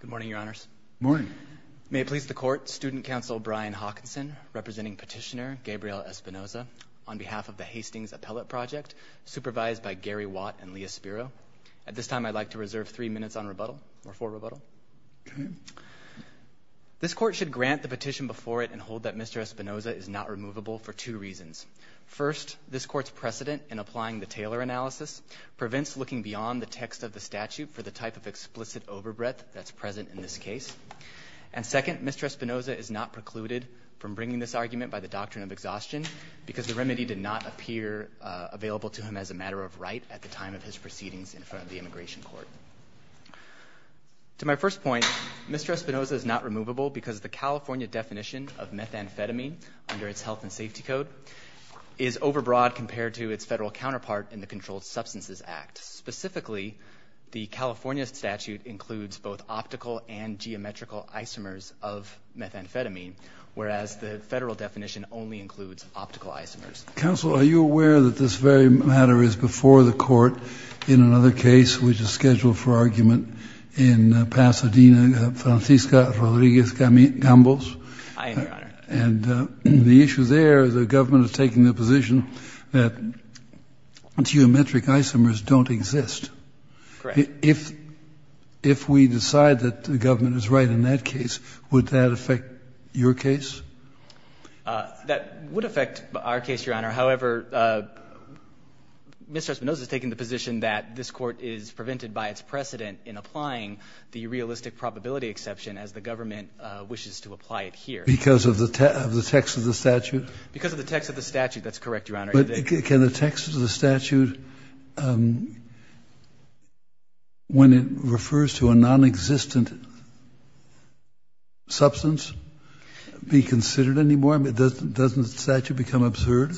Good morning, Your Honors. Morning. May it please the Court, Student Counsel Brian Hawkinson, representing Petitioner Gabriel Espinoza, on behalf of the Hastings Appellate Project, supervised by Gary Watt and Leah Spiro. At this time, I'd like to reserve three minutes on rebuttal, or for rebuttal. Okay. This Court should grant the petition before it and hold that Mr. Espinoza is not removable for two reasons. First, this Court's precedent in applying the Taylor analysis prevents looking beyond the text of the statute for the type of explicit overbreath that's present in this case. And second, Mr. Espinoza is not precluded from bringing this argument by the doctrine of exhaustion because the remedy did not appear available to him as a matter of right at the time of his proceedings in front of the Immigration Court. To my first point, Mr. Espinoza is not removable because the California definition of methamphetamine under its Health and Safety Code is overbroad compared to its federal counterpart in the Controlled Substances Act. Specifically, the California statute includes both optical and geometrical isomers of methamphetamine, whereas the federal definition only includes optical isomers. Counsel, are you aware that this very matter is before the Court in another case, which is scheduled for argument in Pasadena, Francisca Rodriguez-Gambos? I am, Your Honor. And the issue there, the government is taking the position that geometric isomers don't exist. Correct. If we decide that the government is right in that case, would that affect your case? That would affect our case, Your Honor. However, Mr. Espinoza is taking the position that this Court is prevented by its precedent in applying the realistic probability exception as the government wishes to apply it here. Because of the text of the statute? Because of the text of the statute. That's correct, Your Honor. Can the text of the statute, when it refers to a nonexistent substance, be considered anymore? Doesn't the statute become absurd?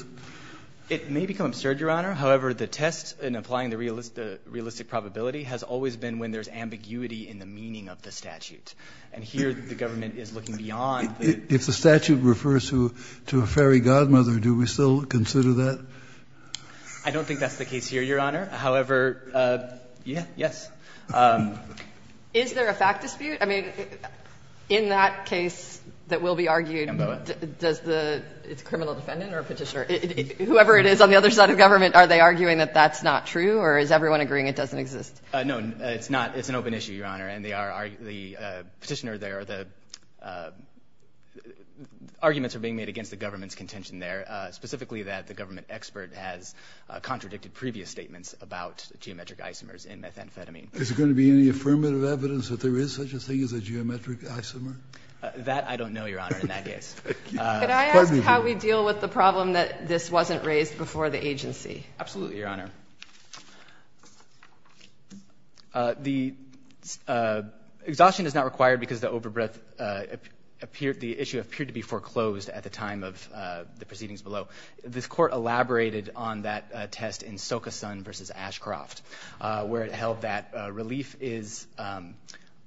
It may become absurd, Your Honor. However, the test in applying the realistic probability has always been when there's ambiguity in the meaning of the statute. And here, the government is looking beyond the statute. If the statute refers to a fairy godmother, do we still consider that? I don't think that's the case here, Your Honor. However, yes. Is there a fact dispute? I mean, in that case that will be argued, does the – it's a criminal defendant or a Petitioner. Whoever it is on the other side of government, are they arguing that that's not true, or is everyone agreeing it doesn't exist? No, it's not. It's an open issue, Your Honor. And the Petitioner there, the arguments are being made against the government's contention there, specifically that the government expert has contradicted previous statements about geometric isomers in methamphetamine. Is there going to be any affirmative evidence that there is such a thing as a geometric isomer? That I don't know, Your Honor, in that case. Could I ask how we deal with the problem that this wasn't raised before the agency? Absolutely, Your Honor. Exhaustion is not required because the issue appeared to be foreclosed at the time of the proceedings below. This court elaborated on that test in Socasun v. Ashcroft, where it held that relief is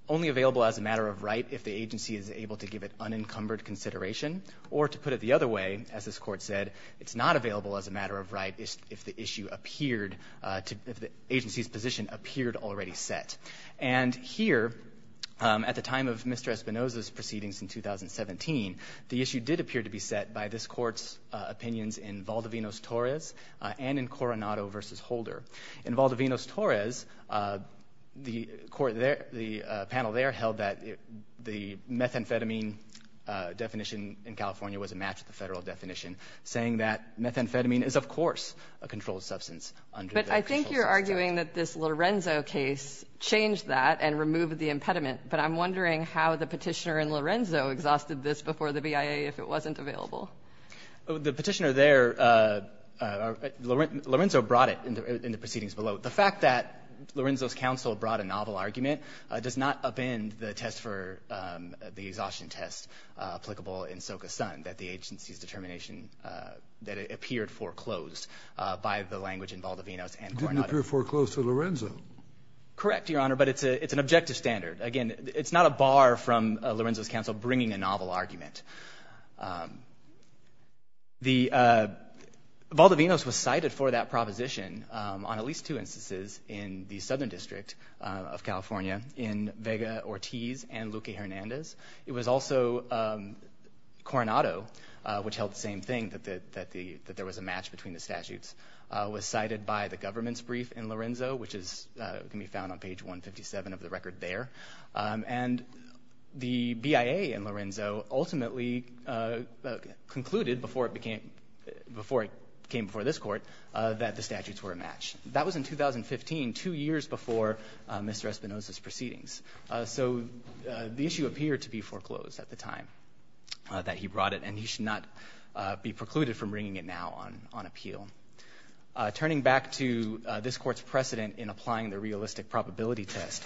only available as a matter of right if the agency is able to give it unencumbered consideration, or to put it the other way, as this court said, it's not available as a matter of right if the agency's position appeared already set. And here, at the time of Mr. Espinosa's proceedings in 2017, the issue did appear to be set by this court's opinions in Valdivinos-Torres and in Coronado v. Holder. In Valdivinos-Torres, the panel there held that the methamphetamine definition in California was a match to the federal definition, saying that methamphetamine is, of course, a controlled substance. But I think you're arguing that this Lorenzo case changed that and removed the impediment, but I'm wondering how the petitioner in Lorenzo exhausted this before the BIA if it wasn't available. The petitioner there, Lorenzo brought it in the proceedings below. The fact that Lorenzo's counsel brought a novel argument does not upend the test for the exhaustion test applicable in Socasun. That the agency's determination that it appeared foreclosed by the language in Valdivinos and Coronado. It didn't appear foreclosed to Lorenzo. Correct, Your Honor, but it's an objective standard. Again, it's not a bar from Lorenzo's counsel bringing a novel argument. Valdivinos was cited for that proposition on at least two instances in the Southern District of California, in Vega-Ortiz and Luque-Hernandez. It was also Coronado, which held the same thing, that there was a match between the statutes, was cited by the government's brief in Lorenzo, which can be found on page 157 of the record there. And the BIA in Lorenzo ultimately concluded, before it came before this court, that the statutes were a match. That was in 2015, two years before Mr. Espinosa's proceedings. So the issue appeared to be foreclosed at the time that he brought it, and he should not be precluded from bringing it now on appeal. Turning back to this court's precedent in applying the realistic probability test,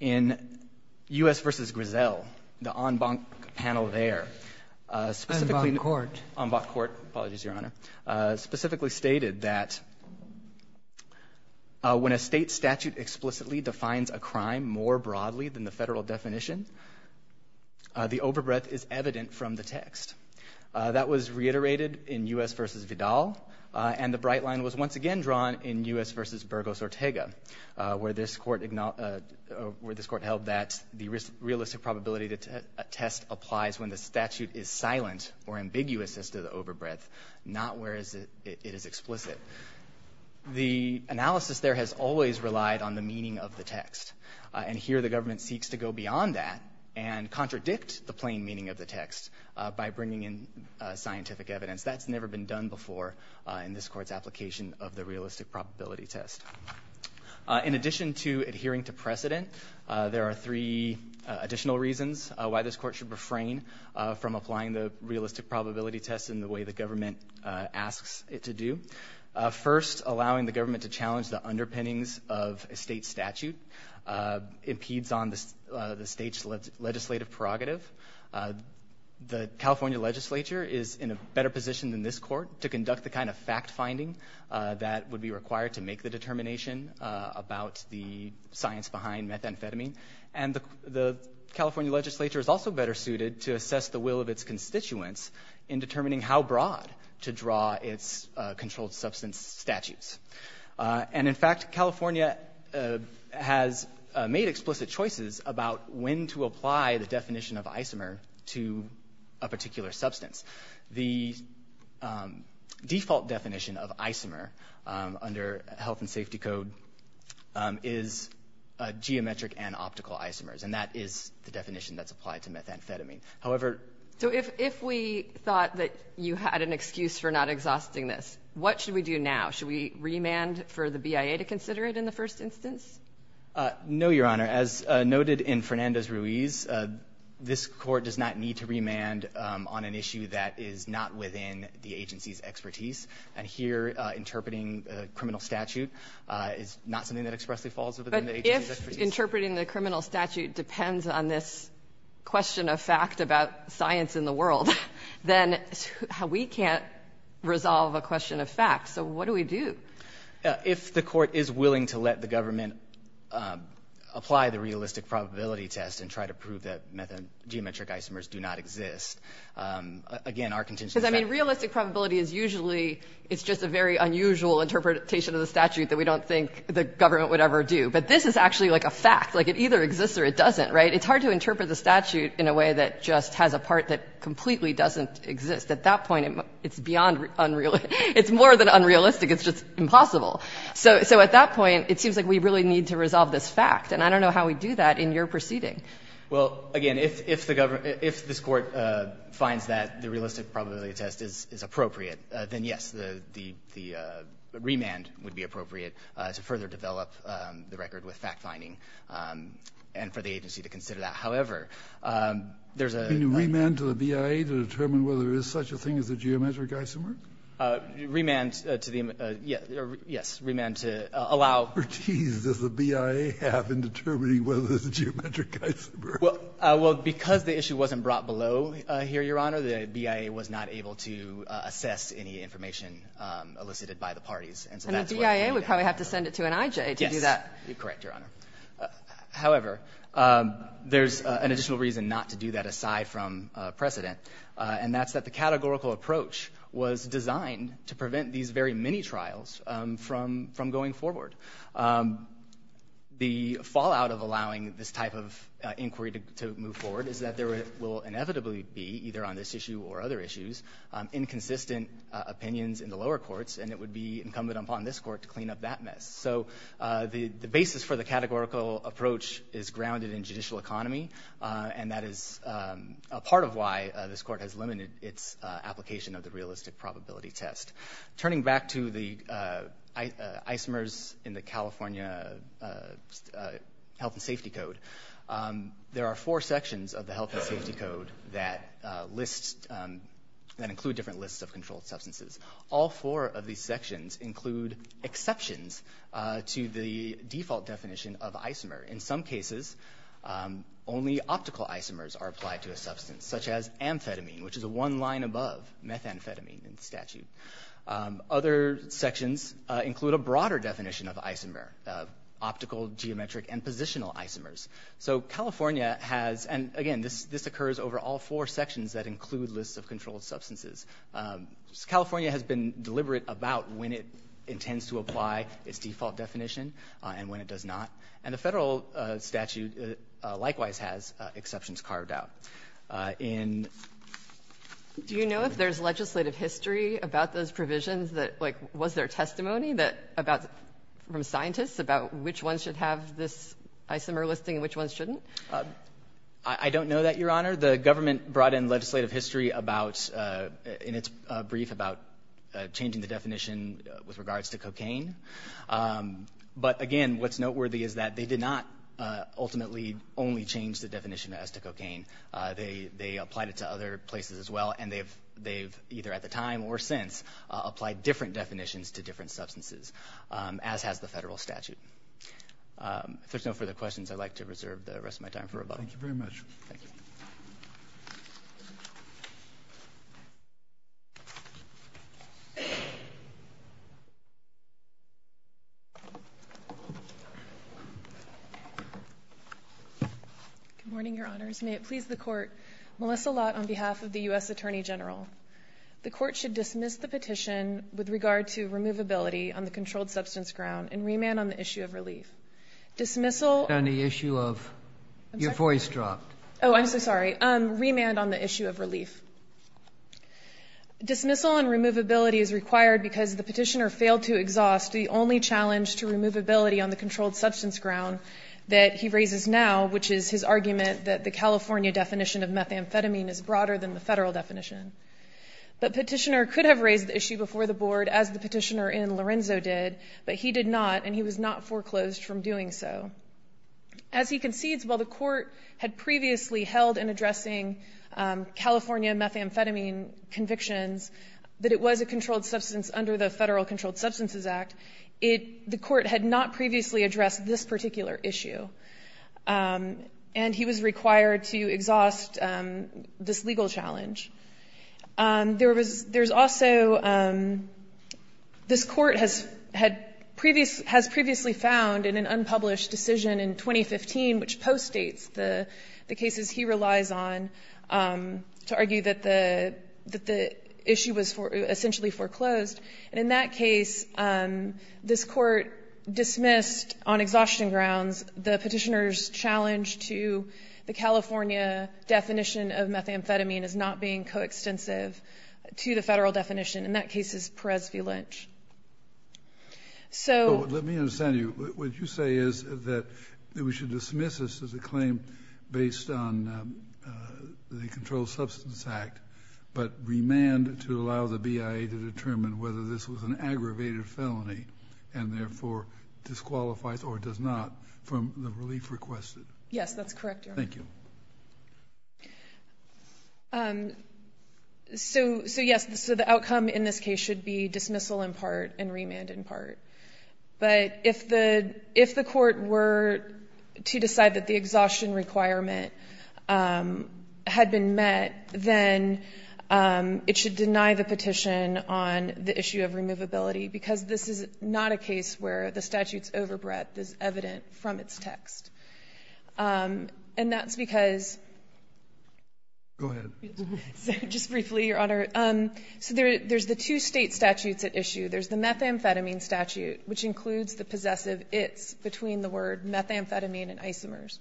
in U.S. v. Griselle, the en banc panel there, specifically- En banc court. En banc court, apologies, Your Honor. Specifically stated that when a state statute explicitly defines a crime more broadly than the federal definition, the overbreadth is evident from the text. That was reiterated in U.S. v. Vidal, and the bright line was once again drawn in U.S. v. Burgos-Ortega, where this court held that the realistic probability test applies when the statute is silent or ambiguous as to the overbreadth, not where it is explicit. The analysis there has always relied on the meaning of the text, and here the government seeks to go beyond that and contradict the plain meaning of the text by bringing in scientific evidence. That's never been done before in this court's application of the realistic probability test. In addition to adhering to precedent, there are three additional reasons why this court should refrain from applying the realistic probability test in the way the government asks it to do. First, allowing the government to challenge the underpinnings of a state statute impedes on the state's legislative prerogative. The California legislature is in a better position than this court to conduct the kind of fact-finding that would be required to make the determination about the science behind methamphetamine, and the California legislature is also better suited to assess the will of its constituents in determining how broad to draw its controlled substance statutes. And in fact, California has made explicit choices about when to apply the definition of isomer to a particular substance. The default definition of isomer under health and safety code is geometric and optical isomers, and that is the definition that's applied to methamphetamine. However – So if we thought that you had an excuse for not exhausting this, what should we do now? Should we remand for the BIA to consider it in the first instance? No, Your Honor. As noted in Fernandez-Ruiz, this court does not need to remand on an issue that is not within the agency's expertise, and here interpreting a criminal statute is not something that expressly falls within the agency's expertise. But if interpreting the criminal statute depends on this question of fact about science in the world, then we can't resolve a question of fact. So what do we do? If the court is willing to let the government apply the realistic probability test and try to prove that geometric isomers do not exist, again, our contention is – Because, I mean, realistic probability is usually – it's just a very unusual interpretation of the statute that we don't think the government would ever do. But this is actually, like, a fact. Like, it either exists or it doesn't, right? It's hard to interpret the statute in a way that just has a part that completely doesn't exist. At that point, it's beyond – it's more than unrealistic. It's just impossible. So at that point, it seems like we really need to resolve this fact. And I don't know how we do that in your proceeding. Well, again, if the government – if this Court finds that the realistic probability test is appropriate, then, yes, the remand would be appropriate to further develop the record with fact-finding and for the agency to consider that. However, there's a – Can you remand to the BIA to determine whether there is such a thing as a geometric isomer? Remand to the – yes. Remand to allow – What expertise does the BIA have in determining whether there's a geometric isomer? Well, because the issue wasn't brought below here, Your Honor, the BIA was not able to assess any information elicited by the parties. And so that's why – And the BIA would probably have to send it to an IJ to do that. Yes. You're correct, Your Honor. However, there's an additional reason not to do that aside from precedent, and that's that the categorical approach was designed to prevent these very mini-trials from going forward. The fallout of allowing this type of inquiry to move forward is that there will inevitably be, either on this issue or other issues, inconsistent opinions in the lower courts, and it would be incumbent upon this Court to clean up that mess. So the basis for the categorical approach is grounded in judicial economy, and that is part of why this Court has limited its application of the realistic probability test. Turning back to the isomers in the California Health and Safety Code, there are four sections of the Health and Safety Code that list – that include different lists of controlled substances. All four of these sections include exceptions to the default definition of isomer. In some cases, only optical isomers are applied to a substance, such as amphetamine, which is one line above methamphetamine in statute. Other sections include a broader definition of isomer – optical, geometric, and positional isomers. So California has – and again, this occurs over all four sections that include lists of controlled substances. California has been deliberate about when it intends to apply its default definition and when it does not. And the federal statute likewise has exceptions carved out. In – Do you know if there's legislative history about those provisions that – like, was there testimony that – about – from scientists about which ones should have this isomer listing and which ones shouldn't? I don't know that, Your Honor. The government brought in legislative history about – in its brief about changing the definition with regards to cocaine. But, again, what's noteworthy is that they did not ultimately only change the definition as to cocaine. They applied it to other places as well, and they've either at the time or since applied different definitions to different substances, as has the federal statute. If there's no further questions, I'd like to reserve the rest of my time for rebuttal. Thank you very much. Thank you. Good morning, Your Honors. May it please the Court. Melissa Lott on behalf of the U.S. Attorney General. The Court should dismiss the petition with regard to removability on the controlled substance ground and remand on the issue of relief. Dismissal – On the issue of – your voice dropped. Oh, I'm so sorry. Remand on the issue of relief. Dismissal and removability is required because the petitioner failed to exhaust the only challenge to removability on the controlled substance ground that he raises now, which is his argument that the California definition of methamphetamine is broader than the federal definition. The petitioner could have raised the issue before the Board, as the petitioner in Lorenzo did, but he did not, and he was not foreclosed from doing so. As he concedes, while the Court had previously held in addressing California methamphetamine convictions that it was a controlled substance under the Federal Controlled Substances Act, the Court had not previously addressed this particular issue, and he was required to exhaust this legal challenge. There was also – this Court has previously found in an unpublished decision in 2015, which postdates the cases he relies on, to argue that the issue was essentially foreclosed. And in that case, this Court dismissed on exhaustion grounds the petitioner's challenge to the California definition of methamphetamine as not being coextensive to the federal definition. In that case, it's Perez v. Lynch. Let me understand you. What you say is that we should dismiss this as a claim based on the Controlled Substances Act, but remand to allow the BIA to determine whether this was an aggravated felony and therefore disqualifies or does not from the relief requested. Yes, that's correct, Your Honor. Thank you. So, yes, the outcome in this case should be dismissal in part and remand in part. But if the Court were to decide that the exhaustion requirement had been met, then it should deny the petition on the issue of removability because this is not a case where the statute's overbreadth is evident from its text. And that's because... Go ahead. Just briefly, Your Honor. So there's the two state statutes at issue. There's the methamphetamine statute, which includes the possessive its between the word methamphetamine and isomers.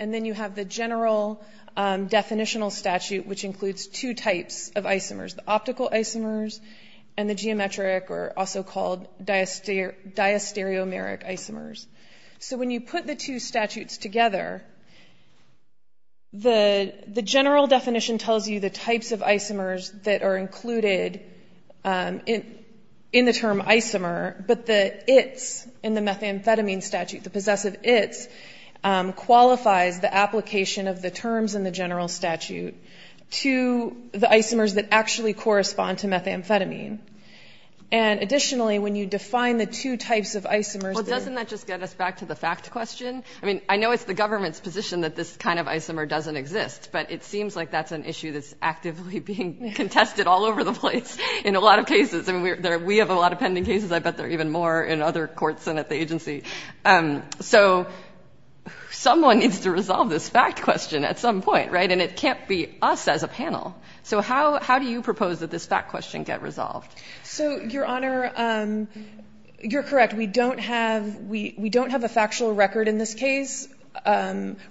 And then you have the general definitional statute, which includes two types of isomers, the optical isomers and the geometric or also called diastereomeric isomers. So when you put the two statutes together, the general definition tells you the types of isomers that are included in the term isomer, but the its in the methamphetamine statute, the possessive its, qualifies the application of the terms in the general statute to the isomers that actually correspond to methamphetamine. And additionally, when you define the two types of isomers... Doesn't that just get us back to the fact question? I mean, I know it's the government's position that this kind of isomer doesn't exist, but it seems like that's an issue that's actively being contested all over the place in a lot of cases. I mean, we have a lot of pending cases. I bet there are even more in other courts and at the agency. So someone needs to resolve this fact question at some point, right? And it can't be us as a panel. So how do you propose that this fact question get resolved? So, Your Honor, you're correct. We don't have a factual record in this case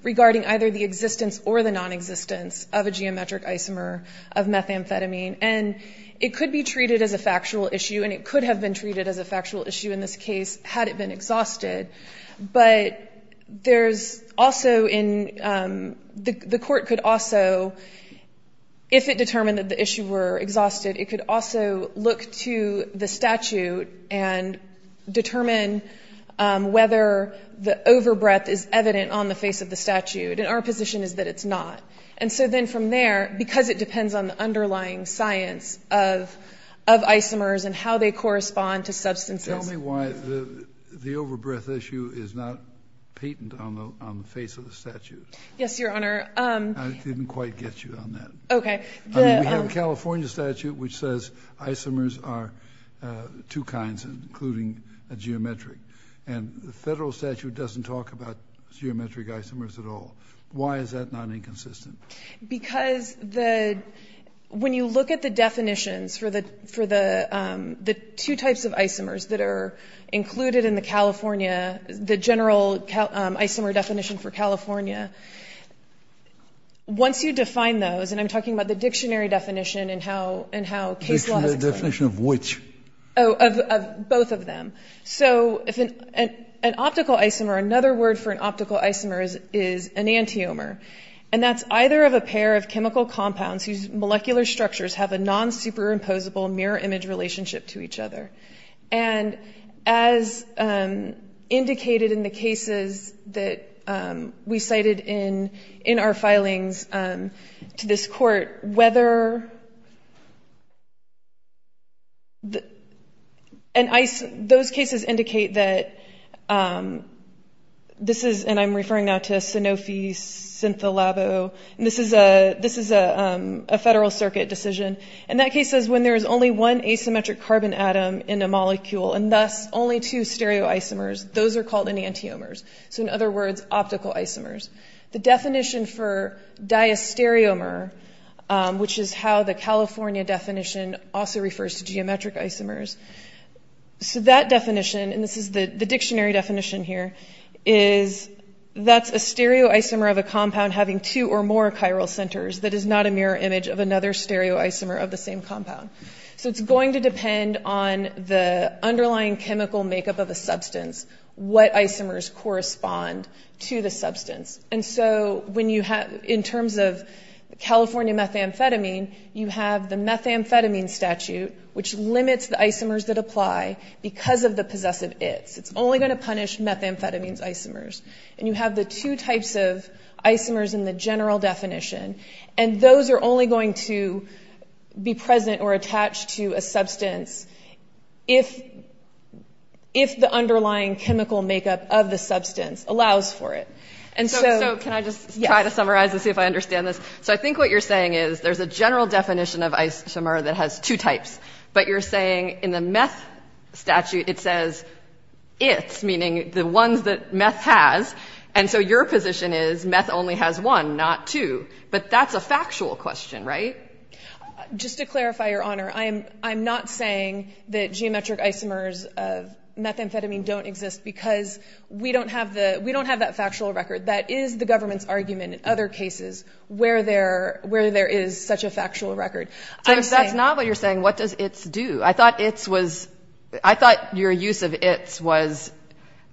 regarding either the existence or the nonexistence of a geometric isomer of methamphetamine. And it could be treated as a factual issue, and it could have been treated as a factual issue in this case had it been exhausted. But there's also in... The court could also, if it determined that the issue were exhausted, it could also look to the statute and determine whether the overbreath is evident on the face of the statute. And our position is that it's not. And so then from there, because it depends on the underlying science of isomers and how they correspond to substances... Tell me why the overbreath issue is not patent on the face of the statute. Yes, Your Honor. I didn't quite get you on that. Okay. We have a California statute which says isomers are two kinds, including a geometric. And the federal statute doesn't talk about geometric isomers at all. Why is that not inconsistent? Because when you look at the definitions for the two types of isomers that are included in the California, the general isomer definition for California, once you define those, and I'm talking about the dictionary definition and how case law is explained. The definition of which? Of both of them. So if an optical isomer, another word for an optical isomer is an antiomer, and that's either of a pair of chemical compounds whose molecular structures have a non-superimposable mirror image relationship to each other. And as indicated in the cases that we cited in our filings to this court, whether... Those cases indicate that this is, and I'm referring now to Sanofi, Syntholabo, and this is a federal circuit decision. And that case says when there is only one asymmetric carbon atom in a molecule, and thus only two stereoisomers, those are called enantiomers. So in other words, optical isomers. The definition for diastereomer, which is how the California definition also refers to geometric isomers. So that definition, and this is the dictionary definition here, is that's a stereoisomer of a compound having two or more chiral centers that is not a mirror image of another stereoisomer of the same compound. So it's going to depend on the underlying chemical makeup of a substance, what isomers correspond to the substance. And so in terms of California methamphetamine, you have the methamphetamine statute, which limits the isomers that apply because of the possessive its. It's only going to punish methamphetamine's isomers. And you have the two types of isomers in the general definition, and those are only going to be present or attached to a substance if the underlying chemical makeup of the substance allows for it. And so can I just try to summarize and see if I understand this? So I think what you're saying is there's a general definition of isomer that has two types, but you're saying in the meth statute it says its, meaning the ones that meth has, and so your position is meth only has one, not two. But that's a factual question, right? Just to clarify, Your Honor, I'm not saying that geometric isomers of methamphetamine don't exist because we don't have that factual record. That is the government's argument in other cases where there is such a factual record. So if that's not what you're saying, what does its do? I thought its was your use of its was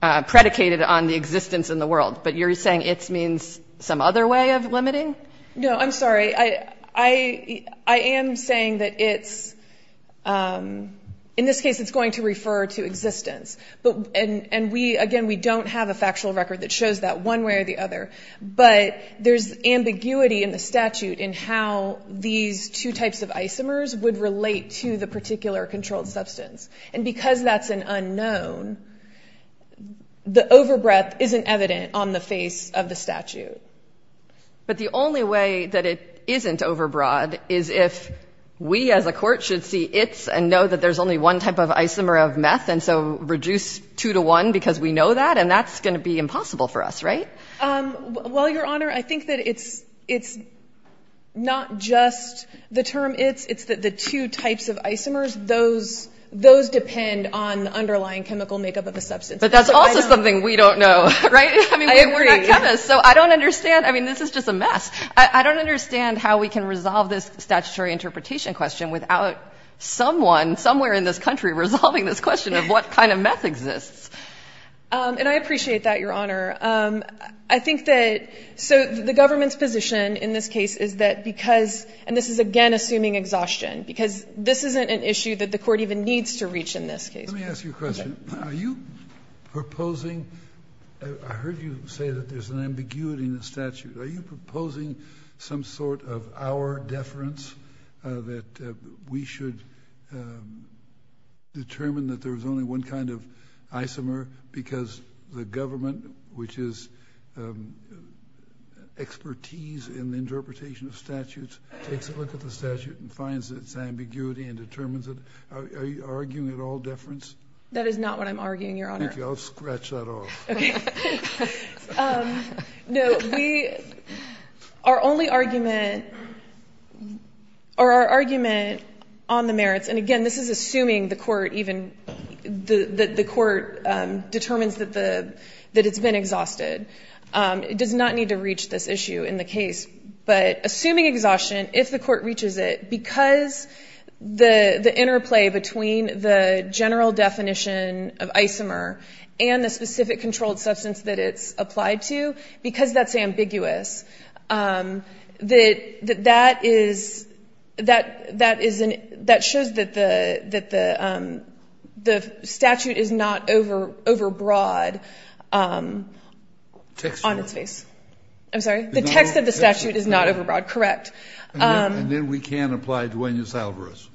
predicated on the existence in the world, but you're saying its means some other way of limiting? No, I'm sorry. I am saying that its, in this case, it's going to refer to existence. And, again, we don't have a factual record that shows that one way or the other. But there's ambiguity in the statute in how these two types of isomers would relate to the particular controlled substance. And because that's an unknown, the overbreath isn't evident on the face of the statute. But the only way that it isn't overbroad is if we as a court should see its and know that there's only one type of isomer of meth, and so reduce two to one because we know that, and that's going to be impossible for us, right? Well, Your Honor, I think that it's not just the term its. It's the two types of isomers. Those depend on the underlying chemical makeup of the substance. But that's also something we don't know, right? I mean, we're not chemists, so I don't understand. I mean, this is just a mess. I don't understand how we can resolve this statutory interpretation question without someone somewhere in this country resolving this question of what kind of meth exists. And I appreciate that, Your Honor. I think that so the government's position in this case is that because and this is, again, assuming exhaustion, because this isn't an issue that the court even needs to reach in this case. Let me ask you a question. Are you proposing? I heard you say that there's an ambiguity in the statute. Are you proposing some sort of our deference, that we should determine that there's only one kind of isomer because the government, which is expertise in the interpretation of statutes, takes a look at the statute and finds its ambiguity and determines it? Are you arguing at all deference? That is not what I'm arguing, Your Honor. Thank you. I'll scratch that off. Okay. No. Our only argument or our argument on the merits, and, again, this is assuming the court determines that it's been exhausted. It does not need to reach this issue in the case. But assuming exhaustion, if the court reaches it, because the interplay between the general definition of isomer and the specific controlled substance that it's applied to, because that's ambiguous, that shows that the statute is not overbroad on its face. I'm sorry? The text of the statute is not overbroad. Correct. And then we can't apply Duenas-Alvarez.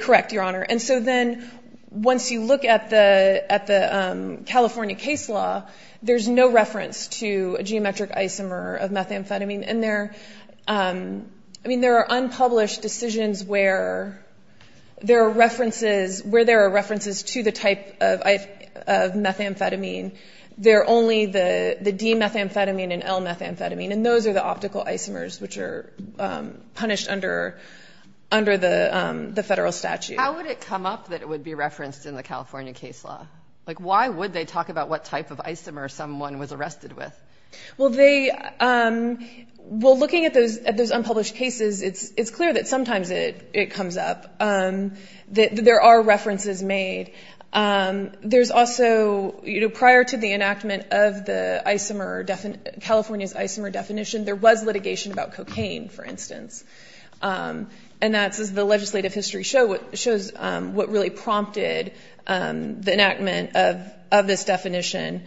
Correct, Your Honor. And so then once you look at the California case law, there's no reference to a geometric isomer of methamphetamine in there. I mean, there are unpublished decisions where there are references to the type of methamphetamine. They're only the D-methamphetamine and L-methamphetamine, and those are the optical isomers which are punished under the federal statute. How would it come up that it would be referenced in the California case law? Like, why would they talk about what type of isomer someone was arrested with? Well, looking at those unpublished cases, it's clear that sometimes it comes up. There are references made. There's also, prior to the enactment of California's isomer definition, there was litigation about cocaine, for instance. And that's, as the legislative history shows, what really prompted the enactment of this definition.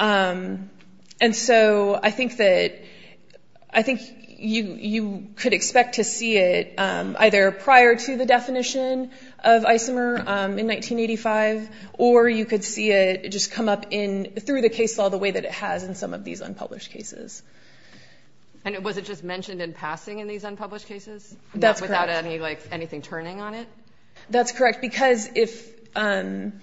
And so I think you could expect to see it either prior to the definition of isomer in 1985, or you could see it just come up through the case law the way that it has in some of these unpublished cases. And was it just mentioned in passing in these unpublished cases? That's correct. Without anything turning on it? That's correct. Because if—and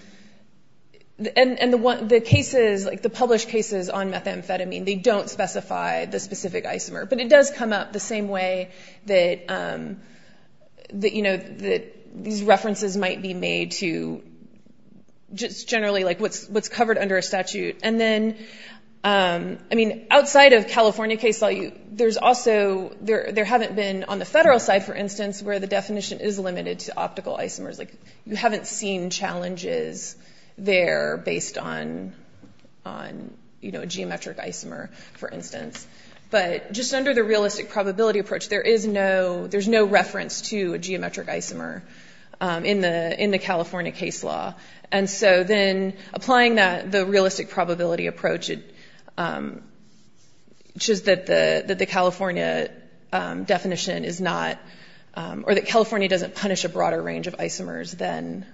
the cases, like the published cases on methamphetamine, they don't specify the specific isomer. But it does come up the same way that these references might be made to just generally what's covered under a statute. And then, I mean, outside of California case law, there's also— on the federal side, for instance, where the definition is limited to optical isomers, you haven't seen challenges there based on a geometric isomer, for instance. But just under the realistic probability approach, there is no— there's no reference to a geometric isomer in the California case law. And so then applying that, the realistic probability approach, which is that the California definition is not— or that California doesn't punish a broader range of isomers than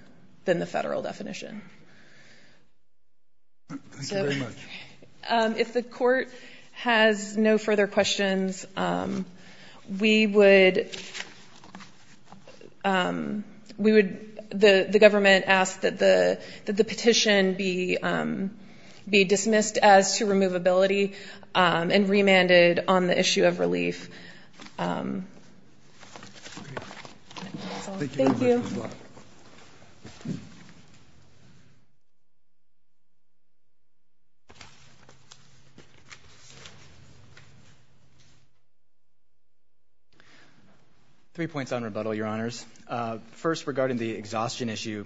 the federal definition. Thank you very much. If the Court has no further questions, we would— we would—the government asks that the petition be dismissed as to removability and remanded on the issue of relief. Thank you. Three points on rebuttal, Your Honors. First, regarding the exhaustion issue,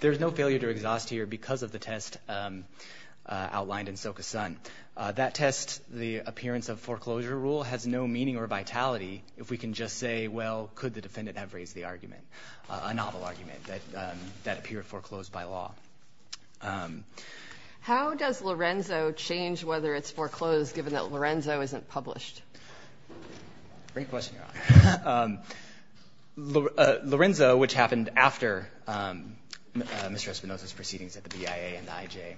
there's no failure to exhaust here because of the test outlined in Soka's son. That test, the appearance of foreclosure rule, has no meaning or vitality if we can just say, well, could the defendant have raised the argument, a novel argument that appeared foreclosed by law. How does Lorenzo change whether it's foreclosed given that Lorenzo isn't published? Great question, Your Honor. Lorenzo, which happened after Mr. Espinoza's proceedings at the BIA and the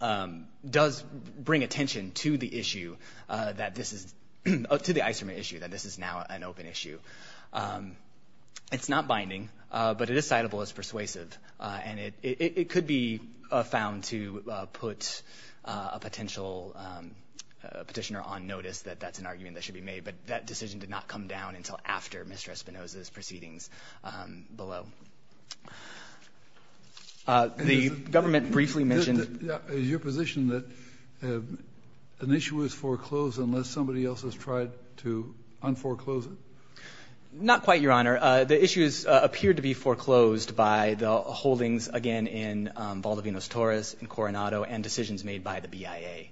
IJ, does bring attention to the issue that this is—to the isomer issue that this is now an open issue. It's not binding, but it is citable, it's persuasive. And it could be found to put a potential petitioner on notice that that's an argument that should be made. But that decision did not come down until after Mr. Espinoza's proceedings below. The government briefly mentioned— Is your position that an issue is foreclosed unless somebody else has tried to unforeclose it? Not quite, Your Honor. The issues appeared to be foreclosed by the holdings, again, in Valdivinos-Torres and Coronado and decisions made by the BIA.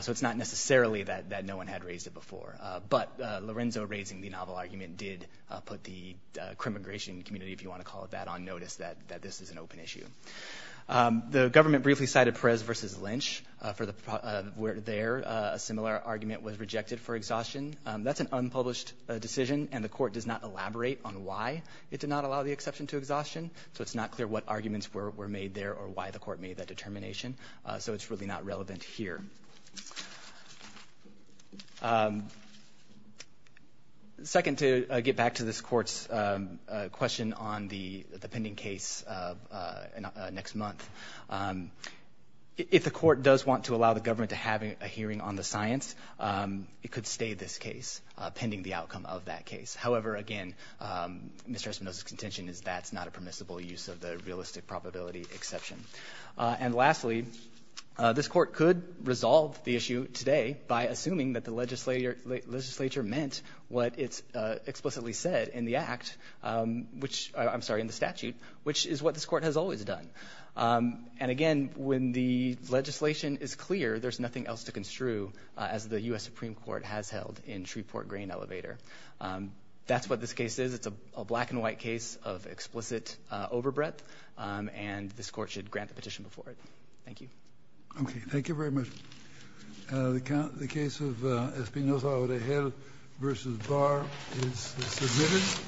So it's not necessarily that no one had raised it before. But Lorenzo raising the novel argument did put the crimmigration community, if you want to call it that, on notice that this is an open issue. The government briefly cited Perez v. Lynch. There, a similar argument was rejected for exhaustion. That's an unpublished decision, and the court does not elaborate on why it did not allow the exception to exhaustion. So it's not clear what arguments were made there or why the court made that determination. So it's really not relevant here. Second, to get back to this Court's question on the pending case next month, if the court does want to allow the government to have a hearing on the science, it could stay this case, pending the outcome of that case. However, again, Mr. Espinosa's contention is that's not a permissible use of the realistic probability exception. And lastly, this Court could resolve the issue today by assuming that the legislature meant what it explicitly said in the act, which, I'm sorry, in the statute, which is what this Court has always done. And again, when the legislation is clear, there's nothing else to construe, as the U.S. Supreme Court has held in Shreveport Grain Elevator. That's what this case is. It's a black-and-white case of explicit overbreadth, and this Court should grant the petition before it. Thank you. Okay. Thank you very much. The case of Espinosa-Aurejel v. Barr is submitted.